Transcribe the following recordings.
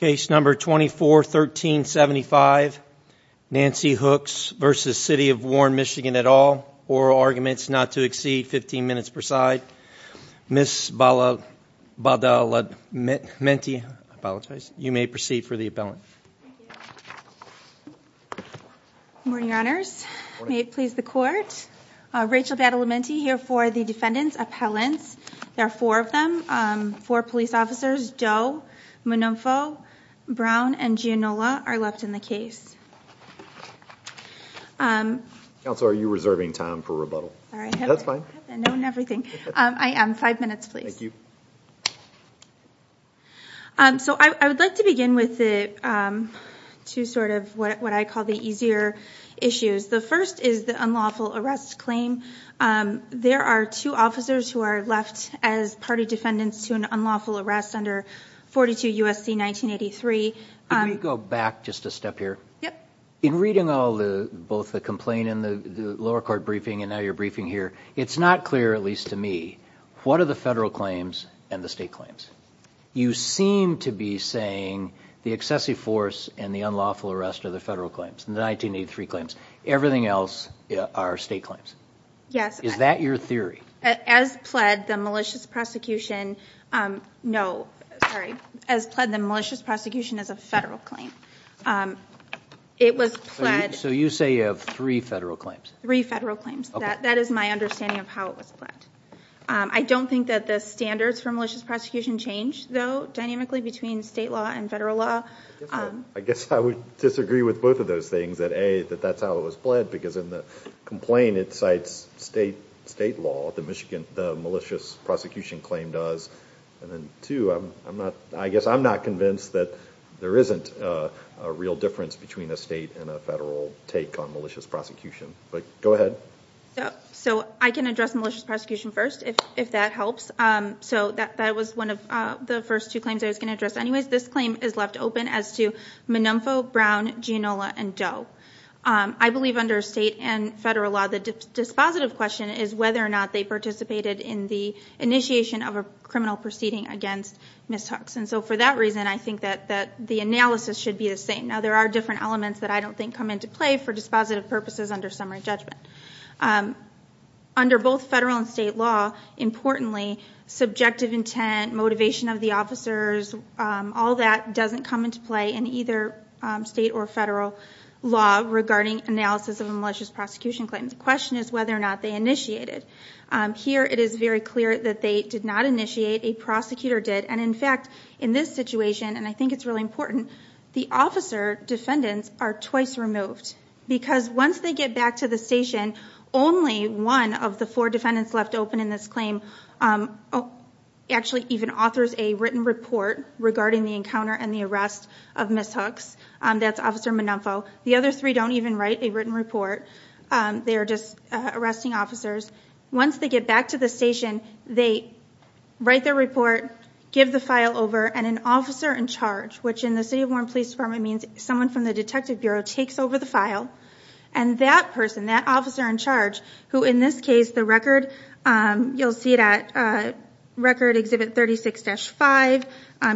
Case number 241375, Nancy Hooks v. City of Warren, MI at all. Oral arguments not to exceed 15 minutes per side. Ms. Badalamenti, you may proceed for the appellant. Good morning, your honors. May it please the court. Rachel Badalamenti here for the defendant's appellants. There are four of them. Four police officers, Doe, Monofo, Brown, and Gianola are left in the case. Counselor, are you reserving time for rebuttal? That's fine. I am. Five minutes, please. So I would like to begin with the two sort of what I call the easier issues. The first is the unlawful arrest claim. There are two officers who are left as party defendants to an unlawful arrest under 42 U.S.C. 1983. Let me go back just a step here. In reading all the both the complaint in the lower court briefing and now your briefing here, it's not clear, at least to me, what are the federal claims and the state claims? You seem to be saying the excessive force and the unlawful arrest are the federal claims, the 1983 claims. Everything else are state claims. Yes. Is that your theory? As pled the malicious prosecution, no, sorry, as pled the malicious prosecution is a federal claim. It was pled. So you say you have three federal claims? Three federal claims. That is my understanding of how it was pled. I don't think that the standards for malicious prosecution change, though, dynamically between state law and federal law. I guess I would disagree with both of those things, that A, that that's how it was pled, because in the complaint it cites state law, the malicious prosecution claim does. And then two, I guess I'm not convinced that there isn't a real difference between a state and a federal take on malicious prosecution. But go ahead. So I can address malicious prosecution first, if that helps. So that was one of the first two claims I was going to address. Anyways, this claim is left open as to Menompho, Brown, Giannola, and Doe. I believe under state and federal law, the dispositive question is whether or not they participated in the initiation of a criminal proceeding against Ms. Hux. And so for that reason, I think that the analysis should be the same. Now, there are different elements that I don't think come into play for dispositive purposes under summary judgment. Under both federal and state law, importantly, subjective intent, motivation of the officers, all that doesn't come into play in either state or federal law regarding analysis of a malicious prosecution claim. The question is whether or not they initiated. Here, it is very clear that they did not initiate. A prosecutor did. And in fact, in this situation, and I think it's really important, the officer defendants are twice removed. Because once they get back to the station, only one of the four defendants left open in this claim actually even authors a written report regarding the encounter and the arrest of Ms. Hux. That's Officer Menompho. The other three don't even write a written report. They are just arresting officers. Once they get back to the station, they write their report, give the file over, and an officer in charge, which in the City of Warren Police Department means someone from the detective bureau takes over the file. And that person, that officer in charge, who in this case, the record, you'll see it at Record Exhibit 36-5.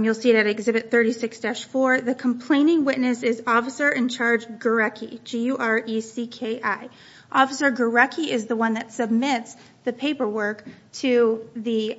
You'll see it at Exhibit 36-4. The complaining witness is Officer in Charge Gurecki, G-U-R-E-C-K-I. Officer Gurecki is the one that submits the paperwork to the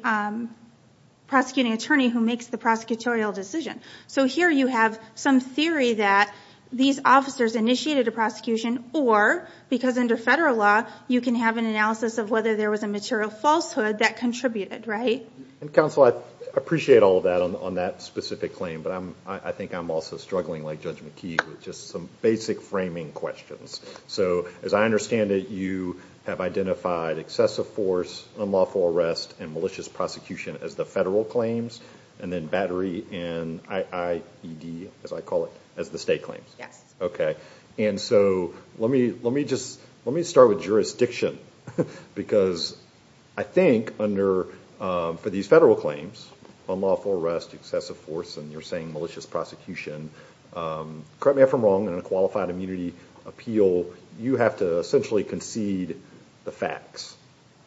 prosecuting attorney who makes the prosecutorial decision. So here you have some theory that these officers initiated a prosecution or, because under federal law, you can have an analysis of whether there was a material falsehood that contributed, right? Counsel, I appreciate all of that on that specific claim, but I think I'm also struggling like Judge McKee with just some basic framing questions. So as I understand it, you have identified excessive force, unlawful arrest, and malicious prosecution as the federal claims, and then battery and I-I-E-D, as I call it, as the state claims. Yes. Okay. And so let me, let me just, let me start with jurisdiction, because I think under, for these federal claims, unlawful arrest, excessive force, and you're saying malicious prosecution, correct me if I'm wrong, in a qualified immunity appeal, you have to essentially concede the facts.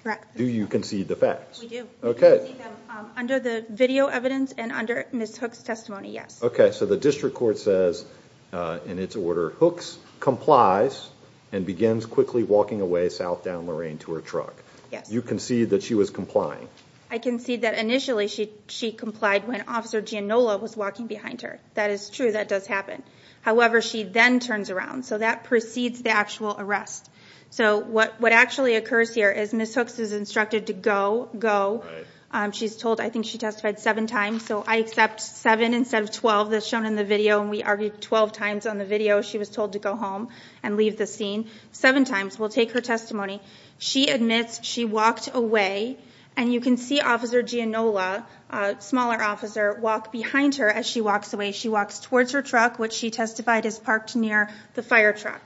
Correct. Do you concede the facts? We do. Okay. We concede them under the video evidence and under Ms. Hook's testimony, yes. Okay. So the district court says, in its order, Hooks complies and begins quickly walking away south down Lorraine to her truck. Yes. You concede that she was complying. I concede that initially she, she complied when Officer Giannola was walking behind her. That is true, that does happen. However, she then turns around, so that precedes the actual arrest. So what, what actually occurs here is Ms. Hooks is instructed to go, go. Right. She's told, I think she testified seven times, so I accept seven instead of 12, as shown in the video, and we argued 12 times on the video, she was told to go home and leave the scene. Seven times. We'll take her testimony. She admits she walked away, and you can see Officer Giannola, a smaller officer, walk behind her as she walks away. She walks towards her truck, which she testified is parked near the fire truck.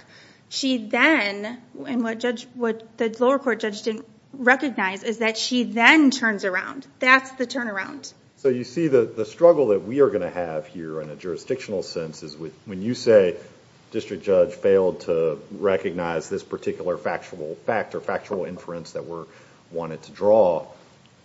She then, and what judge, what the lower court judge didn't recognize, is that she then turns around. That's the turnaround. So you see the struggle that we are going to have here in a jurisdictional sense is when you say District Judge failed to recognize this particular factual fact or factual inference that we're wanting to draw,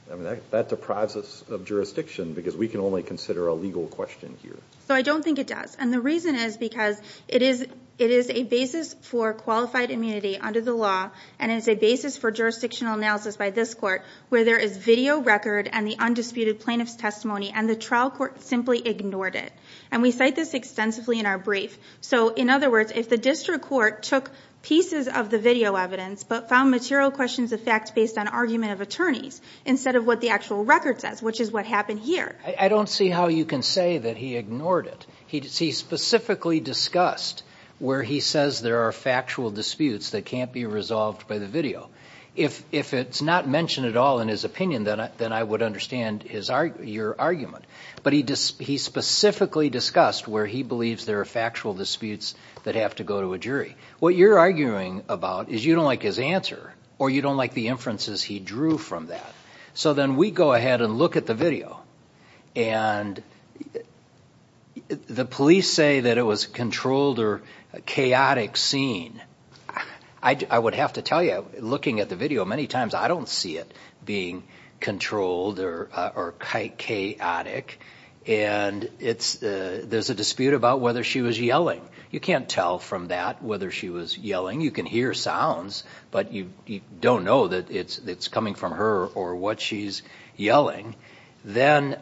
that deprives us of jurisdiction because we can only consider a legal question here. So I don't think it does, and the reason is because it is, it is a basis for qualified immunity under the law, and it's a basis for jurisdictional analysis by this court, where there is video record and the undisputed plaintiff's testimony, and the trial court simply ignored it. And we cite this extensively in our brief. So, in other words, if the district court took pieces of the video evidence, but found material questions of facts based on argument of attorneys, instead of what the actual record says, which is what happened here. I don't see how you can say that he ignored it. He specifically discussed where he says there are factual disputes that can't be resolved by the video. If it's not mentioned at all in his opinion, then I would understand your argument. But he specifically discussed where he believes there are factual disputes that have to go to a jury. What you're arguing about is you don't like his answer, or you don't like the inferences he drew from that. So then we go ahead and look at the video, and the police say that it was a controlled or chaotic scene. I would have to tell you, looking at the video many times, I don't see it being controlled or chaotic. And there's a dispute about whether she was yelling. You can't tell from that whether she was yelling. You can hear sounds, but you don't know that it's coming from her or what she's yelling. Then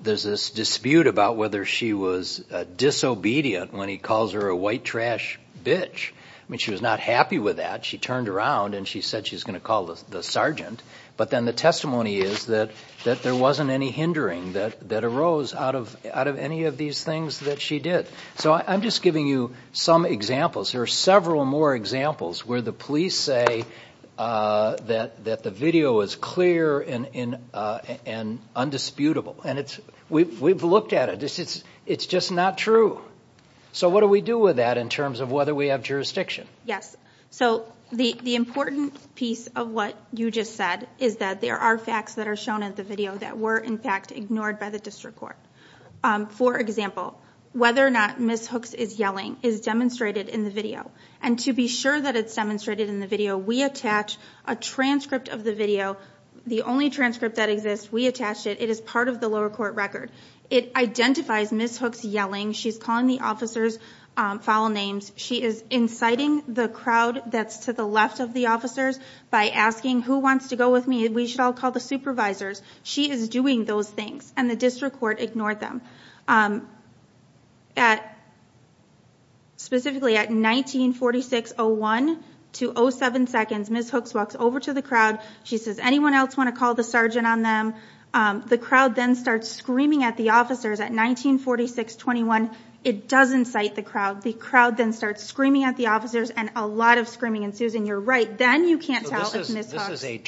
there's this dispute about whether she was disobedient when he calls her a white trash bitch. I mean, she was not happy with that. She turned around and she said she's going to call the sergeant. But then the testimony is that there wasn't any hindering that arose out of any of these things that she did. So I'm just giving you some examples. There are several more examples where the police say that the video is clear and undisputable. And we've looked at it. It's just not true. So what do we do with that in terms of whether we have jurisdiction? Yes. So the important piece of what you just said is that there are facts that are shown in the video that were in fact ignored by the district court. For example, whether or not Ms. Hooks is yelling is demonstrated in the video. And to be sure that it's demonstrated in the video, we attach a transcript of the video. The only transcript that exists, we attach it. It is part of the lower court record. It identifies Ms. Hooks yelling. She's calling the officers foul names. She is inciting the crowd that's to the left of the officers by asking, who wants to go with me? We should all call the supervisors. She is doing those things. And the district court ignored them. Specifically at 19.46.01 to 07.02, Ms. Hooks walks over to the crowd. She says, anyone else want to call the sergeant on them? The crowd then starts screaming at the officers at 19.46.21. It does incite the crowd. The crowd then starts screaming at the officers and a lot of screaming ensues. And you're right. Then you can't tell if Ms. Hooks... prepared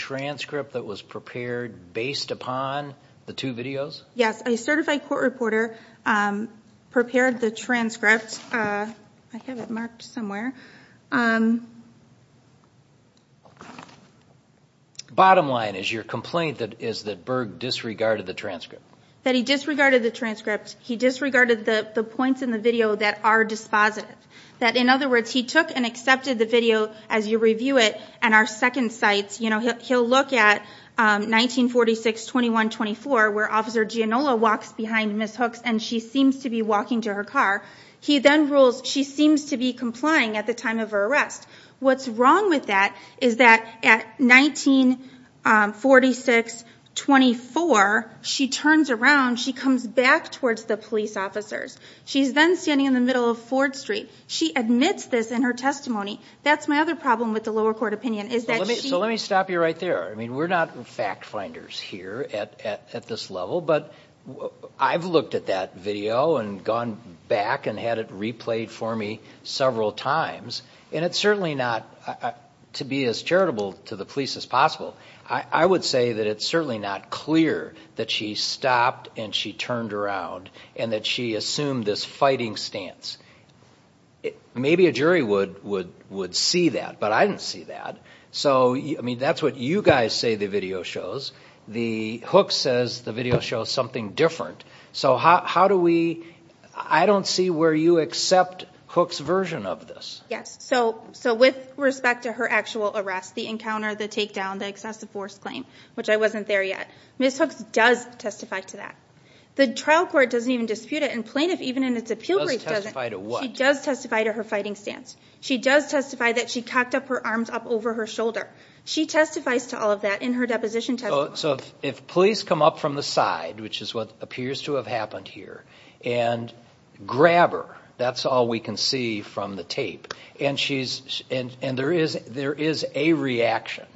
the transcript. I have it marked somewhere. Bottom line is your complaint is that Berg disregarded the transcript. That he disregarded the transcript. He disregarded the points in the video that are dispositive. In other words, he took and accepted the video as you review it. And our second site, he'll look at 19.46.21.24 where Officer Gianola walks behind Ms. Hooks and she seems to be walking to her car. He then rules she seems to be complying at the time of her arrest. What's wrong with that is that at 19.46.24, she turns around, she comes back towards the police officers. She's then standing in the middle of Ford Street. She admits this in her testimony. That's my other problem with the lower court opinion. Let me stop you right there. We're not fact finders here at this level, but I've looked at that video and gone back and had it replayed for me several times. And it's certainly not to be as charitable to the police as possible. I would say that it's certainly not clear that she stopped and she turned around and that she assumed this fighting stance. Maybe a jury would see that, but I didn't see that. That's what you guys say the video shows. Hooks says the video shows something different. I don't see where you accept Hooks' version of this. Yes. So with respect to her actual arrest, the encounter, the takedown, the excessive force claim, which I wasn't there yet, Ms. Hooks does testify to that. The trial court doesn't even dispute it and plaintiff even in its appeal brief doesn't. She does testify to her fighting stance. She does testify that she cocked up her arms up over her shoulder. She testifies to all of that in her deposition testimony. So if police come up from the side, which is what appears to have happened here, and grab her, that's all we can see from the tape. And there is a reaction,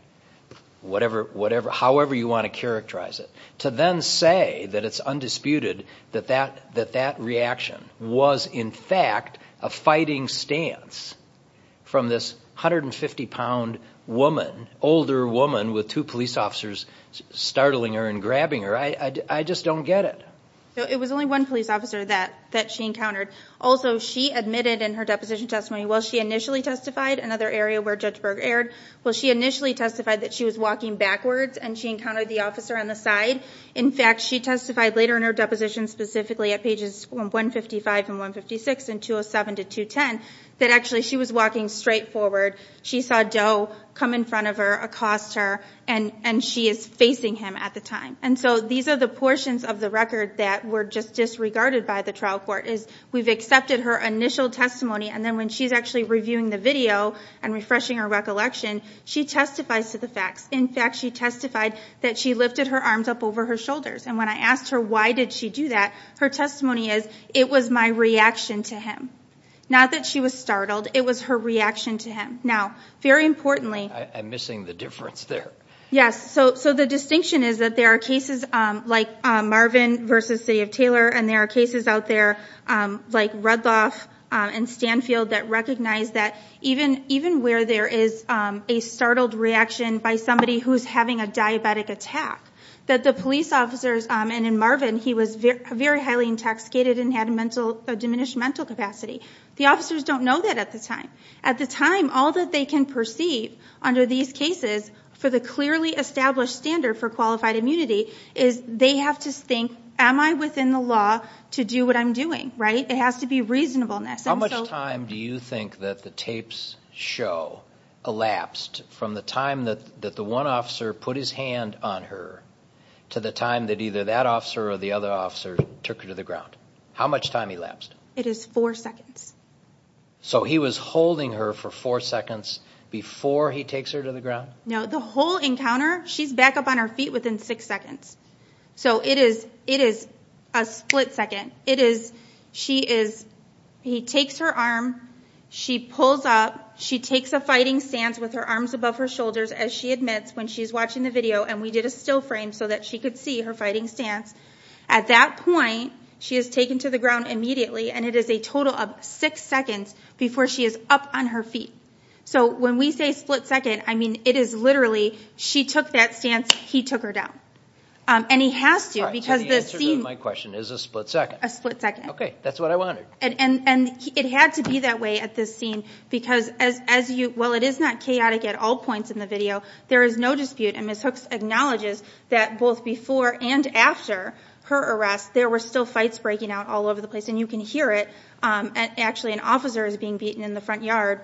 however you want to characterize it, to then say that it's undisputed that that reaction was in fact a fighting stance from this 150-pound woman, older woman with two police officers standing next to her. I'm not startling her and grabbing her. I just don't get it. It was only one police officer that she encountered. Also, she admitted in her deposition testimony, while she initially testified, another area where Judge Berg erred, well she initially testified that she was walking backwards and she encountered the officer on the side. In fact, she testified later in her deposition, specifically at pages 155 and 156 and 207 to 210, that actually she was walking straight forward. She saw Doe come in front of her, accost her, and she is facing him at the time. And so these are the portions of the record that were just disregarded by the trial court, is we've accepted her initial testimony, and then when she's actually reviewing the video and refreshing her recollection, she testifies to the facts. In fact, she testified that she lifted her arms up over her shoulders. And when I asked her why did she do that, her testimony is, it was my reaction to him. Not that she was startled, it was her reaction to him. Now, very importantly... I'm missing the difference there. Yes, so the distinction is that there are cases like Marvin versus City of Taylor, and there are cases out there like Redloff and Stanfield that recognize that even where there is a startled reaction by somebody who's having a diabetic attack, that the police officers, and in Marvin he was very highly intoxicated and had a diminished mental capacity, the officers don't know that at the time. All that they can perceive under these cases for the clearly established standard for qualified immunity is they have to think, am I within the law to do what I'm doing, right? It has to be reasonableness. How much time do you think that the tapes show elapsed from the time that the one officer put his hand on her to the time that either that officer or the other officer took her to the ground? How much time elapsed? It is four seconds. So he was holding her for four seconds before he takes her to the ground? No, the whole encounter, she's back up on her feet within six seconds. So it is a split second. It is, she is, he takes her arm, she pulls up, she takes a fighting stance with her arms above her shoulders as she admits when she's watching the video and we did a still frame so that she could see her fighting stance. At that point, she is taken to the ground immediately and it is a total of six seconds before she is up on her feet. So when we say split second, I mean it is literally, she took that stance, he took her down. And he has to because the scene... So the answer to my question is a split second. A split second. Okay, that's what I wanted. And it had to be that way at this scene because as you, well it is not chaotic at all points in the video. There is no dispute and Ms. Hooks acknowledges that both before and after her arrest there were still fights breaking out all over the place and you can hear it. Actually an officer is being beaten in the front yard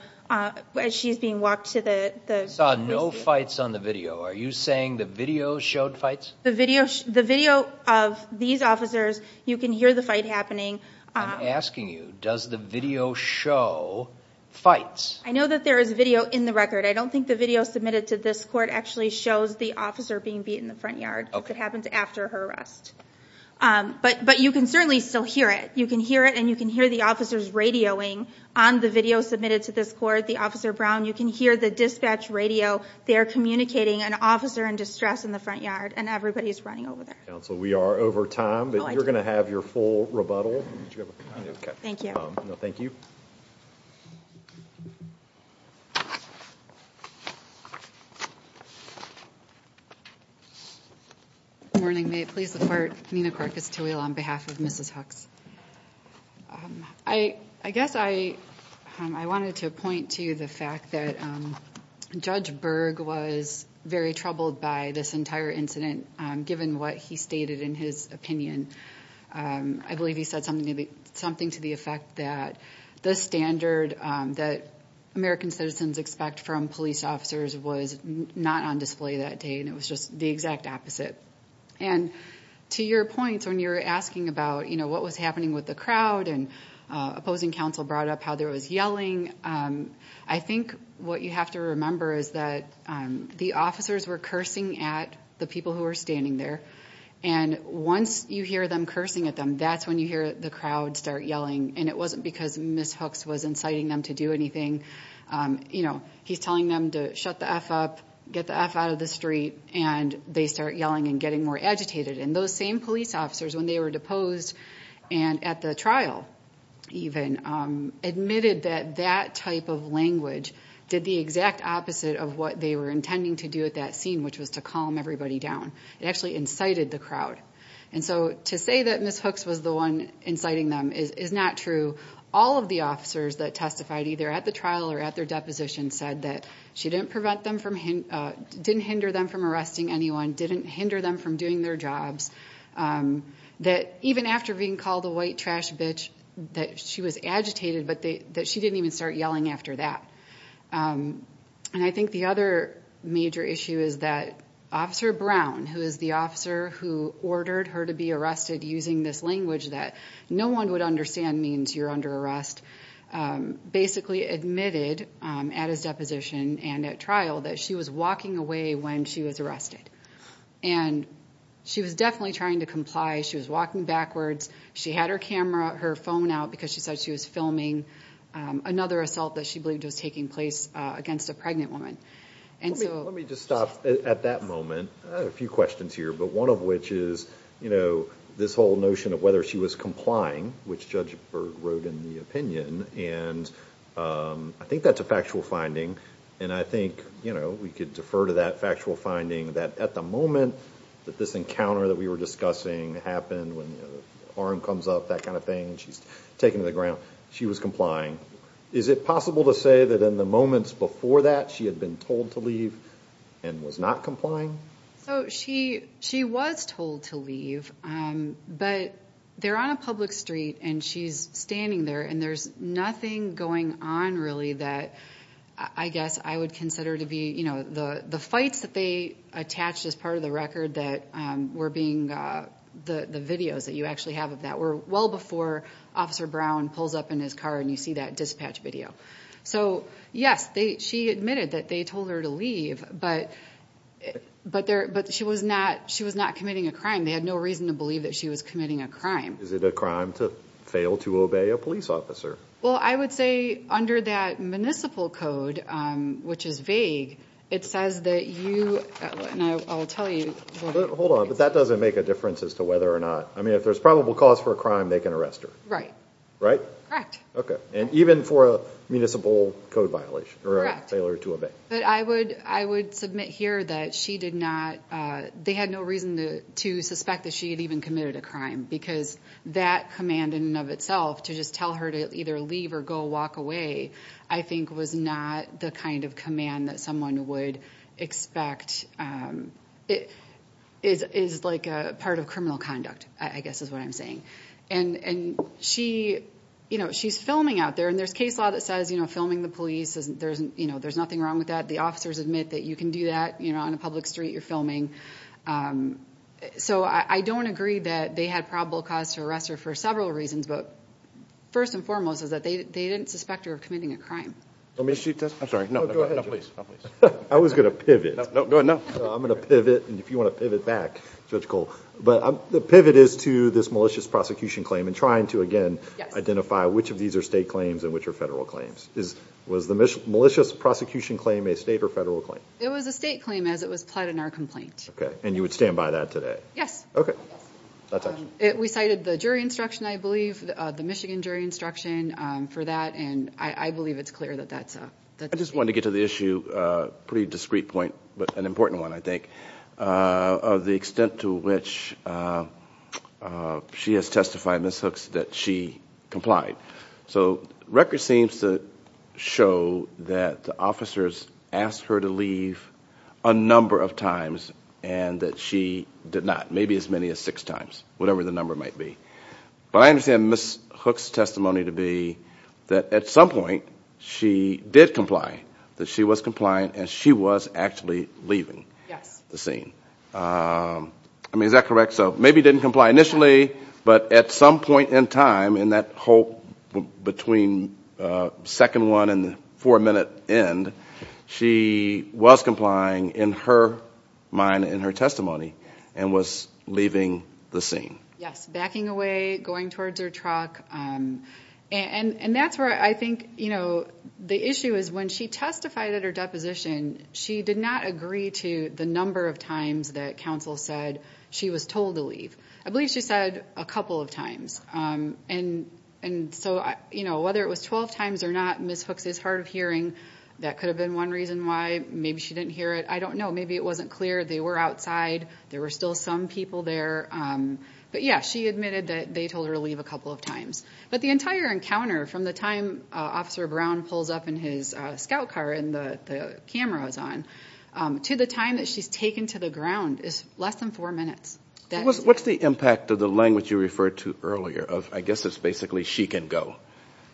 as she's being walked to the... I saw no fights on the video. Are you saying the video showed fights? The video of these officers, you can hear the fight happening. I'm asking you, does the video show fights? I know that there is video in the record. I don't think the video submitted to this court actually shows the officer being beaten in the front yard. Okay. If it happened after her arrest. But you can certainly still hear it. You can hear it and you can hear the officers radioing on the video submitted to this court. The officer Brown, you can hear the dispatch radio. They are communicating an officer in distress in the front yard and everybody is running over there. Counsel, we are over time but you're going to have your full rebuttal. Thank you. No, thank you. Good morning. May it please the court. Nina Krakus to wheel on behalf of Mrs. Hooks. I guess I wanted to point to the fact that Judge Berg was very troubled by this entire incident, given what he stated in his opinion. I believe he said something to the effect that the standard that American citizens expect from police officers was not on display that day and it was just the exact opposite. To your point, when you were asking about what was happening with the crowd and opposing counsel brought up how there was yelling, I think what you have to remember is that the officers were cursing at the people who were standing there. Once you hear them cursing at them, that's when you hear the crowd start yelling. It wasn't because Ms. Hooks was inciting them to do anything. He's telling them to shut the F up, get the F out of the street, and they start yelling and getting more agitated. Those same police officers, when they were deposed and at the trial even, admitted that that type of language did the exact opposite of what they were intending to do at that scene, which was to calm everybody down. It actually incited the crowd. To say that Ms. Hooks was the one inciting them is not true. All of the officers that testified either at the trial or at their deposition said that she didn't hinder them from arresting anyone, didn't hinder them from doing their jobs, that even after being called a white trash bitch that she was agitated, but that she didn't even start yelling after that. I think the other major issue is that Officer Brown, who is the officer who ordered her to be arrested using this language that no one would understand means you're under arrest, basically admitted at his deposition and at trial that she was walking away when she was arrested. She was definitely trying to comply. She was walking backwards. She had her phone out because she said she was filming another assault that she believed was taking place against a pregnant woman. Let me just stop at that moment. I have a few questions here, but one of which is this whole notion of whether she was complying, which Judge Berg wrote in the opinion. I think that's a factual finding, and I think we could defer to that factual finding that at the moment that this encounter that we were discussing happened, when the arm comes up, that kind of thing, and she's taken to the ground, she was complying. Is it possible to say that in the moments before that she had been told to leave and was not complying? She was told to leave, but they're on a public street, and she's standing there, and there's nothing going on really that I guess I would consider to be the fights that they attached as part of the record that were being the videos that you actually have of that were well before Officer Brown pulls up in his car and you see that dispatch video. So yes, she admitted that they told her to leave, but she was not committing a crime. They had no reason to believe that she was committing a crime. Is it a crime to fail to obey a police officer? Well, I would say under that municipal code, which is vague, it says that you, and I'll tell you. Hold on, but that doesn't make a difference as to whether or not. I mean, if there's probable cause for a crime, they can arrest her. Right. Right? Correct. And even for a municipal code violation or a failure to obey. But I would submit here that she did not. They had no reason to suspect that she had even committed a crime because that command in and of itself to just tell her to either leave or go walk away I think was not the kind of command that someone would expect. It is like a part of criminal conduct, I guess is what I'm saying. And she's filming out there and there's case law that says filming the police, there's nothing wrong with that. The officers admit that you can do that on a public street you're filming. So I don't agree that they had probable cause to arrest her for several reasons. But first and foremost is that they didn't suspect her of committing a crime. I'm sorry. No, go ahead. No, please. I was going to pivot. No, go ahead. No. I'm going to pivot. And if you want to pivot back, Judge Cole. But the pivot is to this malicious prosecution claim and trying to, again, identify which of these are state claims and which are federal claims. Was the malicious prosecution claim a state or federal claim? It was a state claim as it was pled in our complaint. Okay. And you would stand by that today? Yes. Okay. We cited the jury instruction, I believe, the Michigan jury instruction for that. And I believe it's clear that that's the case. I just wanted to get to the issue, a pretty discreet point but an important one, I think, of the extent to which she has testified, Ms. Hooks, that she complied. So records seem to show that the officers asked her to leave a number of times and that she did not, maybe as many as six times, whatever the number might be. But I understand Ms. Hooks' testimony to be that at some point she did comply, that she was complying and she was actually leaving the scene. Yes. I mean, is that correct? So maybe didn't comply initially, but at some point in time in that whole between second one and the four-minute end, she was complying in her mind, in her testimony, and was leaving the scene. Yes, backing away, going towards her truck. And that's where I think the issue is when she testified at her deposition, she did not agree to the number of times that counsel said she was told to leave. I believe she said a couple of times. And so whether it was 12 times or not, Ms. Hooks is hard of hearing. That could have been one reason why. Maybe she didn't hear it. I don't know. Maybe it wasn't clear. They were outside. There were still some people there. But, yes, she admitted that they told her to leave a couple of times. But the entire encounter from the time Officer Brown pulls up in his scout car and the camera is on to the time that she's taken to the ground is less than four minutes. What's the impact of the language you referred to earlier? I guess it's basically she can go,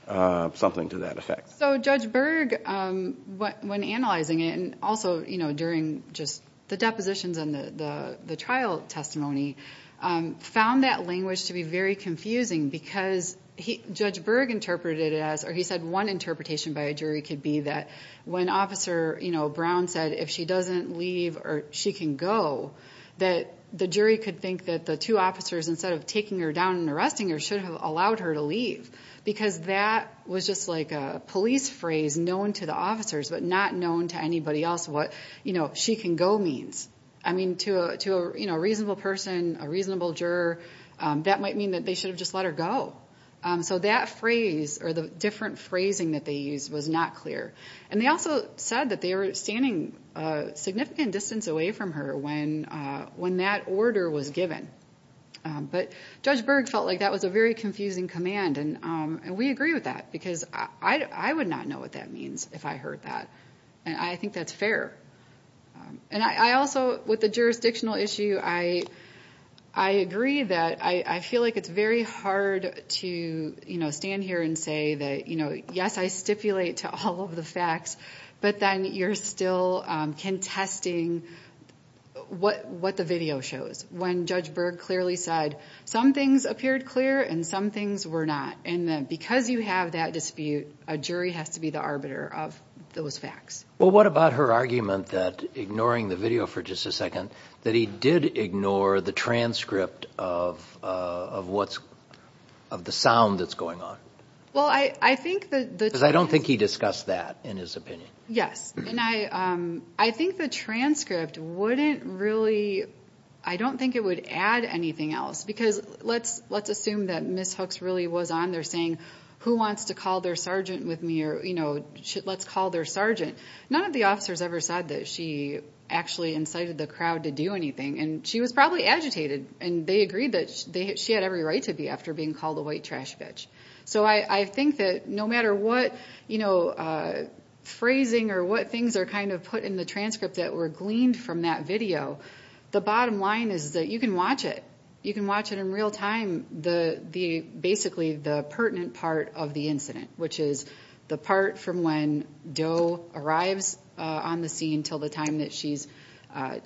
something to that effect. So Judge Berg, when analyzing it and also during just the depositions and the trial testimony, found that language to be very confusing because Judge Berg interpreted it as, or he said one interpretation by a jury could be that when Officer Brown said if she doesn't leave or she can go, that the jury could think that the two officers, instead of taking her down and arresting her, should have allowed her to leave. Because that was just like a police phrase known to the officers but not known to anybody else what she can go means. I mean, to a reasonable person, a reasonable juror, that might mean that they should have just let her go. So that phrase or the different phrasing that they used was not clear. And they also said that they were standing a significant distance away from her when that order was given. But Judge Berg felt like that was a very confusing command. And we agree with that because I would not know what that means if I heard that. And I think that's fair. And I also, with the jurisdictional issue, I agree that I feel like it's very hard to stand here and say that, yes, I stipulate to all of the facts, but then you're still contesting what the video shows. When Judge Berg clearly said some things appeared clear and some things were not. And because you have that dispute, a jury has to be the arbiter of those facts. Well, what about her argument that, ignoring the video for just a second, that he did ignore the transcript of the sound that's going on? Because I don't think he discussed that in his opinion. Yes. And I think the transcript wouldn't really, I don't think it would add anything else. Because let's assume that Ms. Hooks really was on there saying, who wants to call their sergeant with me? Or, you know, let's call their sergeant. None of the officers ever said that she actually incited the crowd to do anything. And she was probably agitated. And they agreed that she had every right to be after being called a white trash bitch. So I think that no matter what phrasing or what things are kind of put in the transcript that were gleaned from that video, the bottom line is that you can watch it. You can watch it in real time, basically the pertinent part of the incident, which is the part from when Doe arrives on the scene until the time that she's,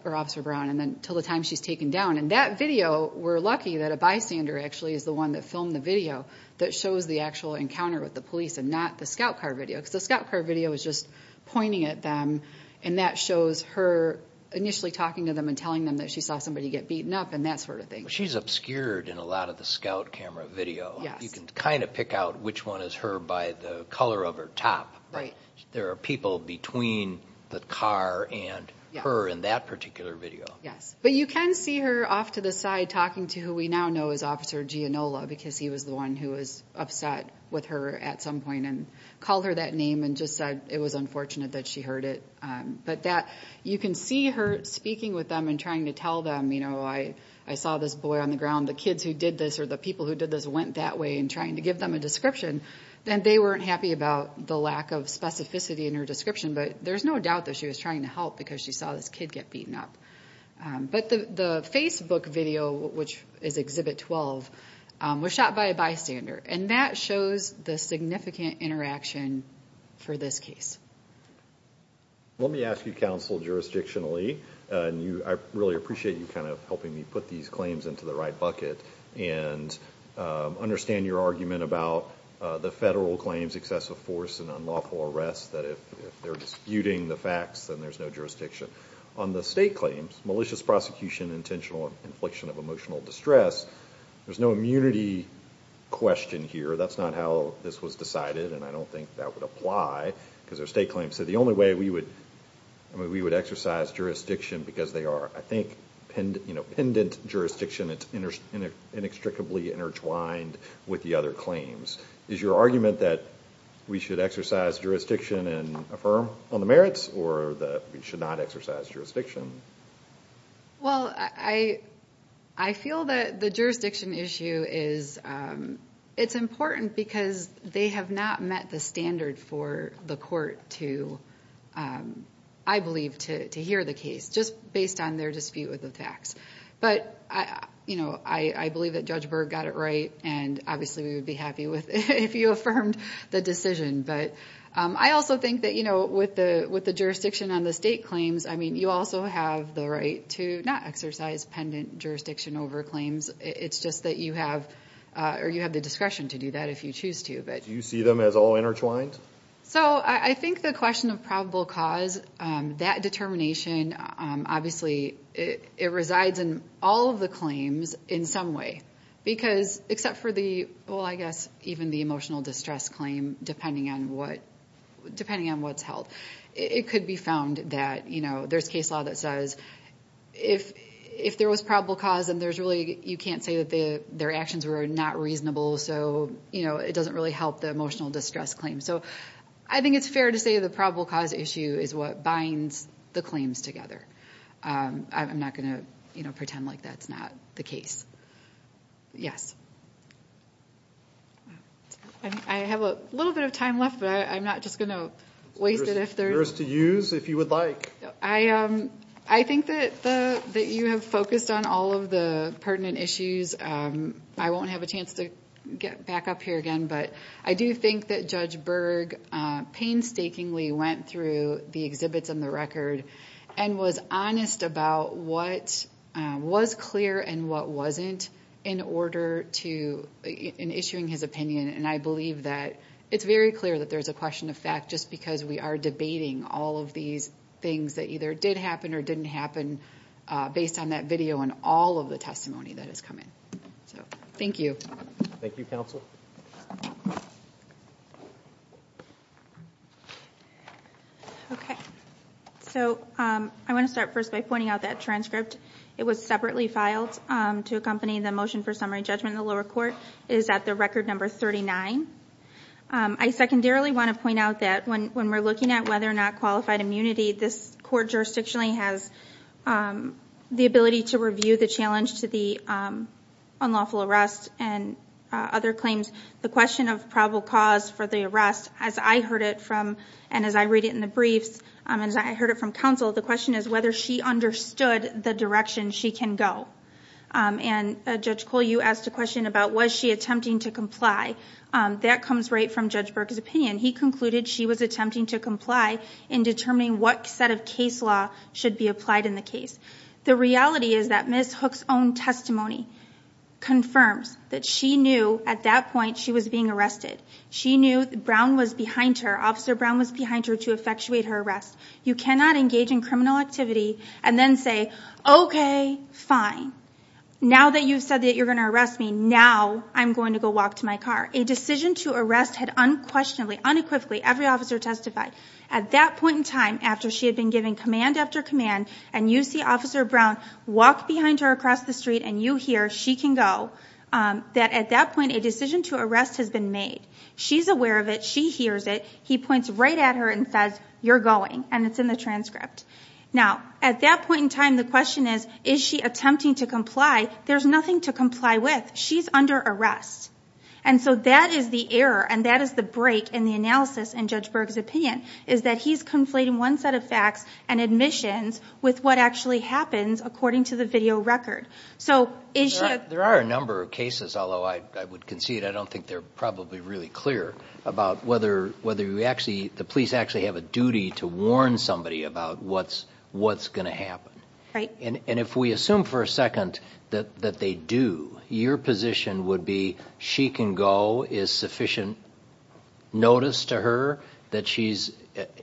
or Officer Brown, and then until the time she's taken down. And that video, we're lucky that a bystander actually is the one that filmed the video that shows the actual encounter with the police and not the scout car video. Because the scout car video is just pointing at them, and that shows her initially talking to them and telling them that she saw somebody get beaten up and that sort of thing. She's obscured in a lot of the scout camera video. You can kind of pick out which one is her by the color of her top. There are people between the car and her in that particular video. Yes, but you can see her off to the side talking to who we now know as Officer Gianola because he was the one who was upset with her at some point and called her that name and just said it was unfortunate that she heard it. But you can see her speaking with them and trying to tell them, you know, I saw this boy on the ground, the kids who did this or the people who did this went that way, and trying to give them a description. And they weren't happy about the lack of specificity in her description, but there's no doubt that she was trying to help because she saw this kid get beaten up. But the Facebook video, which is Exhibit 12, was shot by a bystander, and that shows the significant interaction for this case. Let me ask you, counsel, jurisdictionally, and I really appreciate you kind of helping me put these claims into the right bucket and understand your argument about the federal claims, excessive force and unlawful arrest, that if they're disputing the facts, then there's no jurisdiction. On the state claims, malicious prosecution, intentional infliction of emotional distress, there's no immunity question here. That's not how this was decided, and I don't think that would apply because they're state claims. So the only way we would exercise jurisdiction because they are, I think, pendent jurisdiction, it's inextricably intertwined with the other claims. Is your argument that we should exercise jurisdiction and affirm on the merits or that we should not exercise jurisdiction? Well, I feel that the jurisdiction issue is important because they have not met the standard for the court to, I believe, to hear the case, just based on their dispute with the facts. But, you know, I believe that Judge Berg got it right, and obviously we would be happy if you affirmed the decision. But I also think that, you know, with the jurisdiction on the state claims, I mean, you also have the right to not exercise pendent jurisdiction over claims. It's just that you have the discretion to do that if you choose to. Do you see them as all intertwined? So I think the question of probable cause, that determination, obviously it resides in all of the claims in some way. Because except for the, well, I guess even the emotional distress claim, depending on what's held, it could be found that, you know, there's case law that says if there was probable cause and there's really, you can't say that their actions were not reasonable, so, you know, it doesn't really help the emotional distress claim. So I think it's fair to say the probable cause issue is what binds the claims together. I'm not going to, you know, pretend like that's not the case. Yes. I have a little bit of time left, but I'm not just going to waste it. There's to use if you would like. I think that you have focused on all of the pertinent issues. I won't have a chance to get back up here again, but I do think that Judge Berg painstakingly went through the exhibits and the record and was honest about what was clear and what wasn't in order to, in issuing his opinion. And I believe that it's very clear that there's a question of fact, just because we are debating all of these things that either did happen or didn't happen based on that video and all of the testimony that has come in. So thank you. Thank you, counsel. Okay. So I want to start first by pointing out that transcript. It was separately filed to accompany the motion for summary judgment in the lower court. It is at the record number 39. I secondarily want to point out that when we're looking at whether or not qualified immunity, this court jurisdictionally has the ability to review the challenge to the unlawful arrest and other claims. The question of probable cause for the arrest, as I heard it from, and as I read it in the briefs and as I heard it from counsel, the question is whether she understood the direction she can go. And Judge Cole, you asked a question about was she attempting to comply. That comes right from Judge Berg's opinion. He concluded she was attempting to comply in determining what set of case law should be applied in the case. The reality is that Ms. Hook's own testimony confirms that she knew at that point she was being arrested. She knew Brown was behind her. Officer Brown was behind her to effectuate her arrest. You cannot engage in criminal activity and then say, okay, fine, now that you've said that you're going to arrest me, now I'm going to go walk to my car. A decision to arrest had unquestionably, unequivocally, every officer testified at that point in time after she had been given command after command and you see Officer Brown walk behind her across the street and you hear she can go, that at that point a decision to arrest has been made. She's aware of it. She hears it. He points right at her and says, you're going, and it's in the transcript. Now, at that point in time, the question is, is she attempting to comply? There's nothing to comply with. She's under arrest. And so that is the error and that is the break in the analysis in Judge Berg's opinion is that he's conflating one set of facts and admissions with what actually happens according to the video record. There are a number of cases, although I would concede I don't think they're probably really clear, about whether the police actually have a duty to warn somebody about what's going to happen. And if we assume for a second that they do, your position would be she can go, is sufficient notice to her that she's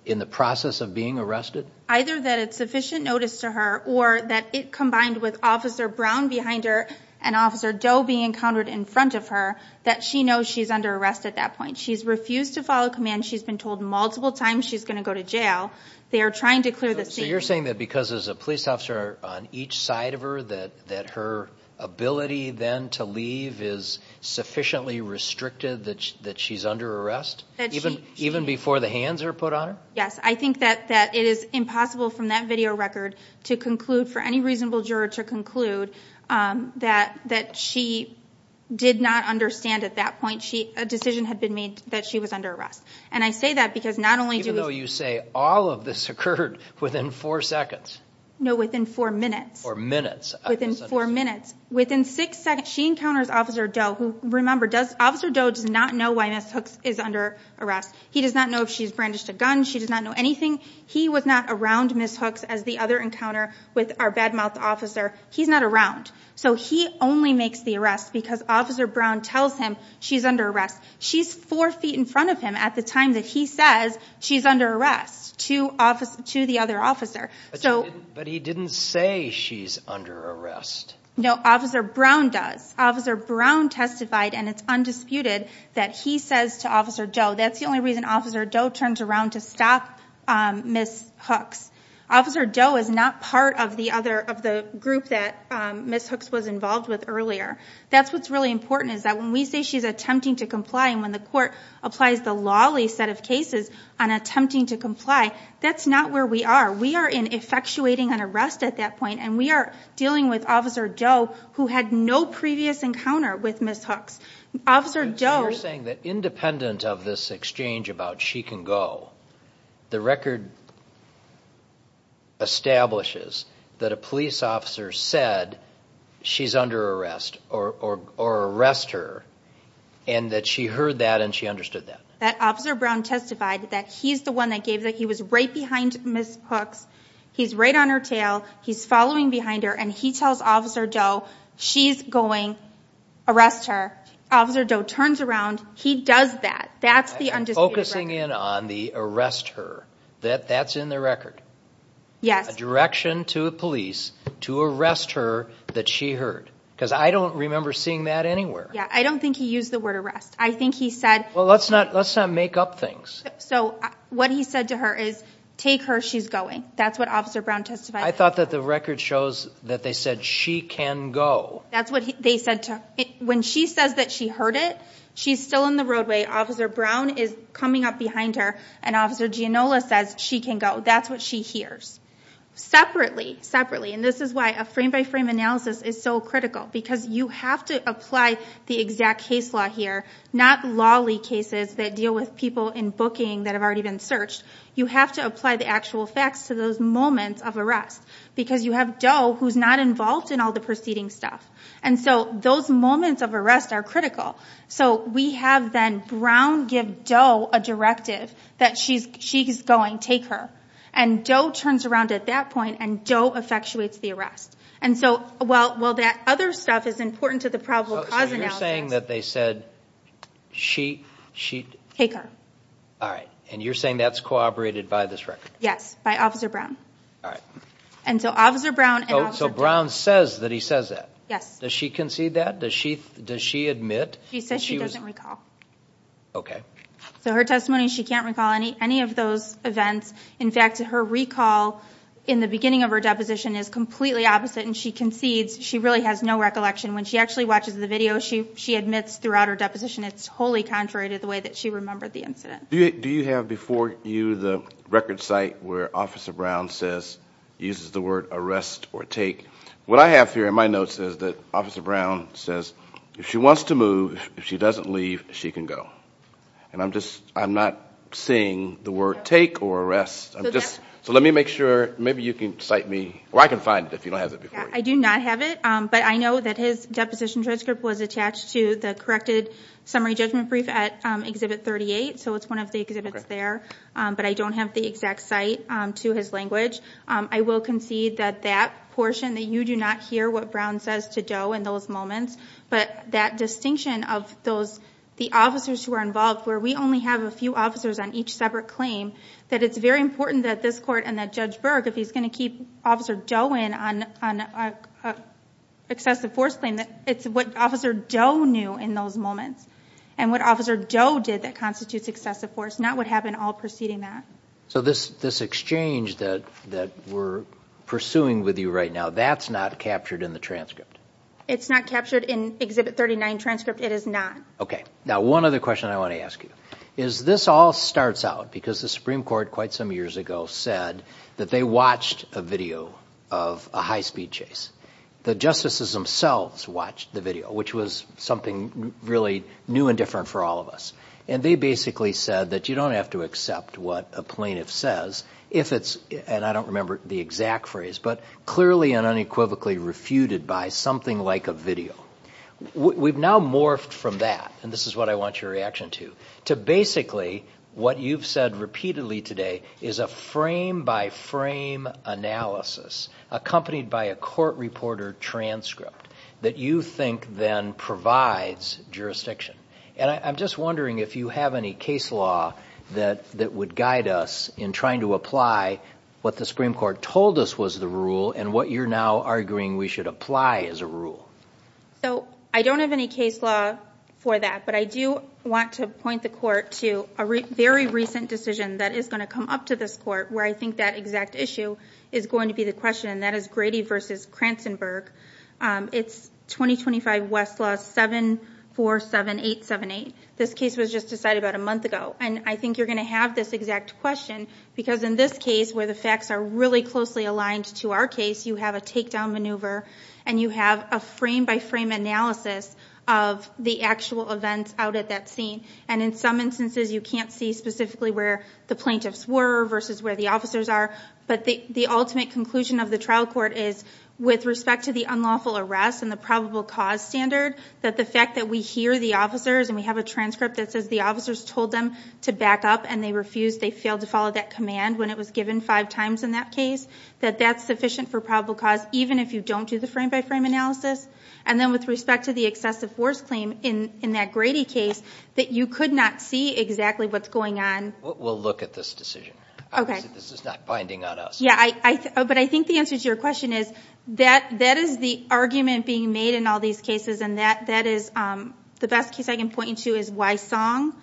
in the process of being arrested? Either that it's sufficient notice to her or that it combined with Officer Brown behind her and Officer Doe being encountered in front of her, that she knows she's under arrest at that point. She's refused to follow command. She's been told multiple times she's going to go to jail. They are trying to clear the scene. So you're saying that because there's a police officer on each side of her that her ability then to leave is sufficiently restricted that she's under arrest, even before the hands are put on her? Yes. I think that it is impossible from that video record for any reasonable juror to conclude that she did not understand at that point a decision had been made that she was under arrest. And I say that because not only do we... Even though you say all of this occurred within four seconds. No, within four minutes. Or minutes. Within four minutes. Within six seconds. She encounters Officer Doe who, remember, Officer Doe does not know why Ms. Hooks is under arrest. He does not know if she's brandished a gun. She does not know anything. He was not around Ms. Hooks as the other encounter with our bad-mouthed officer. He's not around. So he only makes the arrest because Officer Brown tells him she's under arrest. She's four feet in front of him at the time that he says she's under arrest to the other officer. But he didn't say she's under arrest. No, Officer Brown does. Officer Brown testified, and it's undisputed, that he says to Officer Doe, that's the only reason Officer Doe turns around to stop Ms. Hooks. Officer Doe is not part of the group that Ms. Hooks was involved with earlier. That's what's really important is that when we say she's attempting to comply and when the court applies the lawly set of cases on attempting to comply, that's not where we are. We are in effectuating an arrest at that point, and we are dealing with Officer Doe who had no previous encounter with Ms. Hooks. You're saying that independent of this exchange about she can go, the record establishes that a police officer said she's under arrest or arrest her and that she heard that and she understood that. That Officer Brown testified that he's the one that gave that. He was right behind Ms. Hooks. He's right on her tail. He's following behind her, and he tells Officer Doe she's going, arrest her. Officer Doe turns around. He does that. That's the undisputed record. I'm focusing in on the arrest her. That's in the record. Yes. A direction to a police to arrest her that she heard, because I don't remember seeing that anywhere. Yeah, I don't think he used the word arrest. Well, let's not make up things. So what he said to her is, take her, she's going. That's what Officer Brown testified. I thought that the record shows that they said she can go. That's what they said. When she says that she heard it, she's still in the roadway. Officer Brown is coming up behind her, and Officer Giannola says she can go. That's what she hears. Separately, separately, and this is why a frame-by-frame analysis is so critical, because you have to apply the exact case law here, not lawly cases that deal with people in booking that have already been searched. You have to apply the actual facts to those moments of arrest, because you have Doe who's not involved in all the preceding stuff. And so those moments of arrest are critical. So we have then Brown give Doe a directive that she's going, take her. And Doe turns around at that point, and Doe effectuates the arrest. And so while that other stuff is important to the probable cause analysis. So you're saying that they said she, she... Take her. All right. And you're saying that's corroborated by this record? Yes, by Officer Brown. All right. And so Officer Brown and Officer... So Brown says that he says that? Yes. Does she concede that? Does she admit that she was... She says she doesn't recall. Okay. So her testimony, she can't recall any of those events. In fact, her recall in the beginning of her deposition is completely opposite. And she concedes she really has no recollection. When she actually watches the video, she admits throughout her deposition it's wholly contrary to the way that she remembered the incident. Do you have before you the record site where Officer Brown says, uses the word arrest or take? What I have here in my notes is that Officer Brown says, if she wants to move, if she doesn't leave, she can go. And I'm not seeing the word take or arrest. So let me make sure... Maybe you can cite me... Or I can find it if you don't have it before you. I do not have it, but I know that his deposition transcript was attached to the corrected summary judgment brief at Exhibit 38, so it's one of the exhibits there. But I don't have the exact site to his language. I will concede that that portion, that you do not hear what Brown says to Doe in those moments, but that distinction of the officers who are involved, where we only have a few officers on each separate claim, that it's very important that this Court and that Judge Berg, if he's going to keep Officer Doe in on an excessive force claim, that it's what Officer Doe knew in those moments, and what Officer Doe did that constitutes excessive force, not what happened all preceding that. So this exchange that we're pursuing with you right now, that's not captured in the transcript? It's not captured in Exhibit 39 transcript. It is not. Okay. Now, one other question I want to ask you is, this all starts out because the Supreme Court quite some years ago said that they watched a video of a high-speed chase. The justices themselves watched the video, which was something really new and different for all of us. And they basically said that you don't have to accept what a plaintiff says if it's, and I don't remember the exact phrase, but clearly and unequivocally refuted by something like a video. We've now morphed from that, and this is what I want your reaction to, to basically what you've said repeatedly today is a frame-by-frame analysis, accompanied by a court reporter transcript, that you think then provides jurisdiction. And I'm just wondering if you have any case law that would guide us in trying to apply what the Supreme Court told us was the rule and what you're now arguing we should apply as a rule. So, I don't have any case law for that, but I do want to point the court to a very recent decision that is going to come up to this court, where I think that exact issue is going to be the question, and that is Grady v. Kranzenberg. It's 2025 West Law 747878. This case was just decided about a month ago. And I think you're going to have this exact question, because in this case, where the facts are really closely aligned to our case, you have a takedown maneuver, and you have a frame-by-frame analysis of the actual events out at that scene. And in some instances, you can't see specifically where the plaintiffs were versus where the officers are. But the ultimate conclusion of the trial court is, with respect to the unlawful arrest and the probable cause standard, that the fact that we hear the officers, and we have a transcript that says the officers told them to back up, and they refused, they failed to follow that command when it was given five times in that case, that that's sufficient for probable cause, even if you don't do the frame-by-frame analysis. And then with respect to the excessive force claim in that Grady case, that you could not see exactly what's going on. We'll look at this decision. Okay. This is not binding on us. Yeah, but I think the answer to your question is, that is the argument being made in all these cases, and that is the best case I can point you to is Wysong.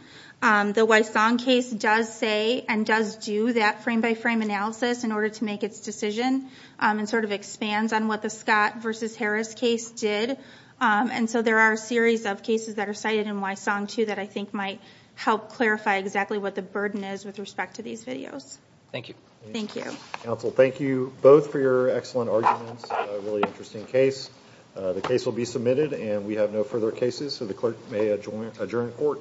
The Wysong case does say and does do that frame-by-frame analysis in order to make its decision, and sort of expands on what the Scott versus Harris case did. And so there are a series of cases that are cited in Wysong, too, that I think might help clarify exactly what the burden is with respect to these videos. Thank you. Thank you. Counsel, thank you both for your excellent arguments. A really interesting case. The case will be submitted, and we have no further cases, so the clerk may adjourn court.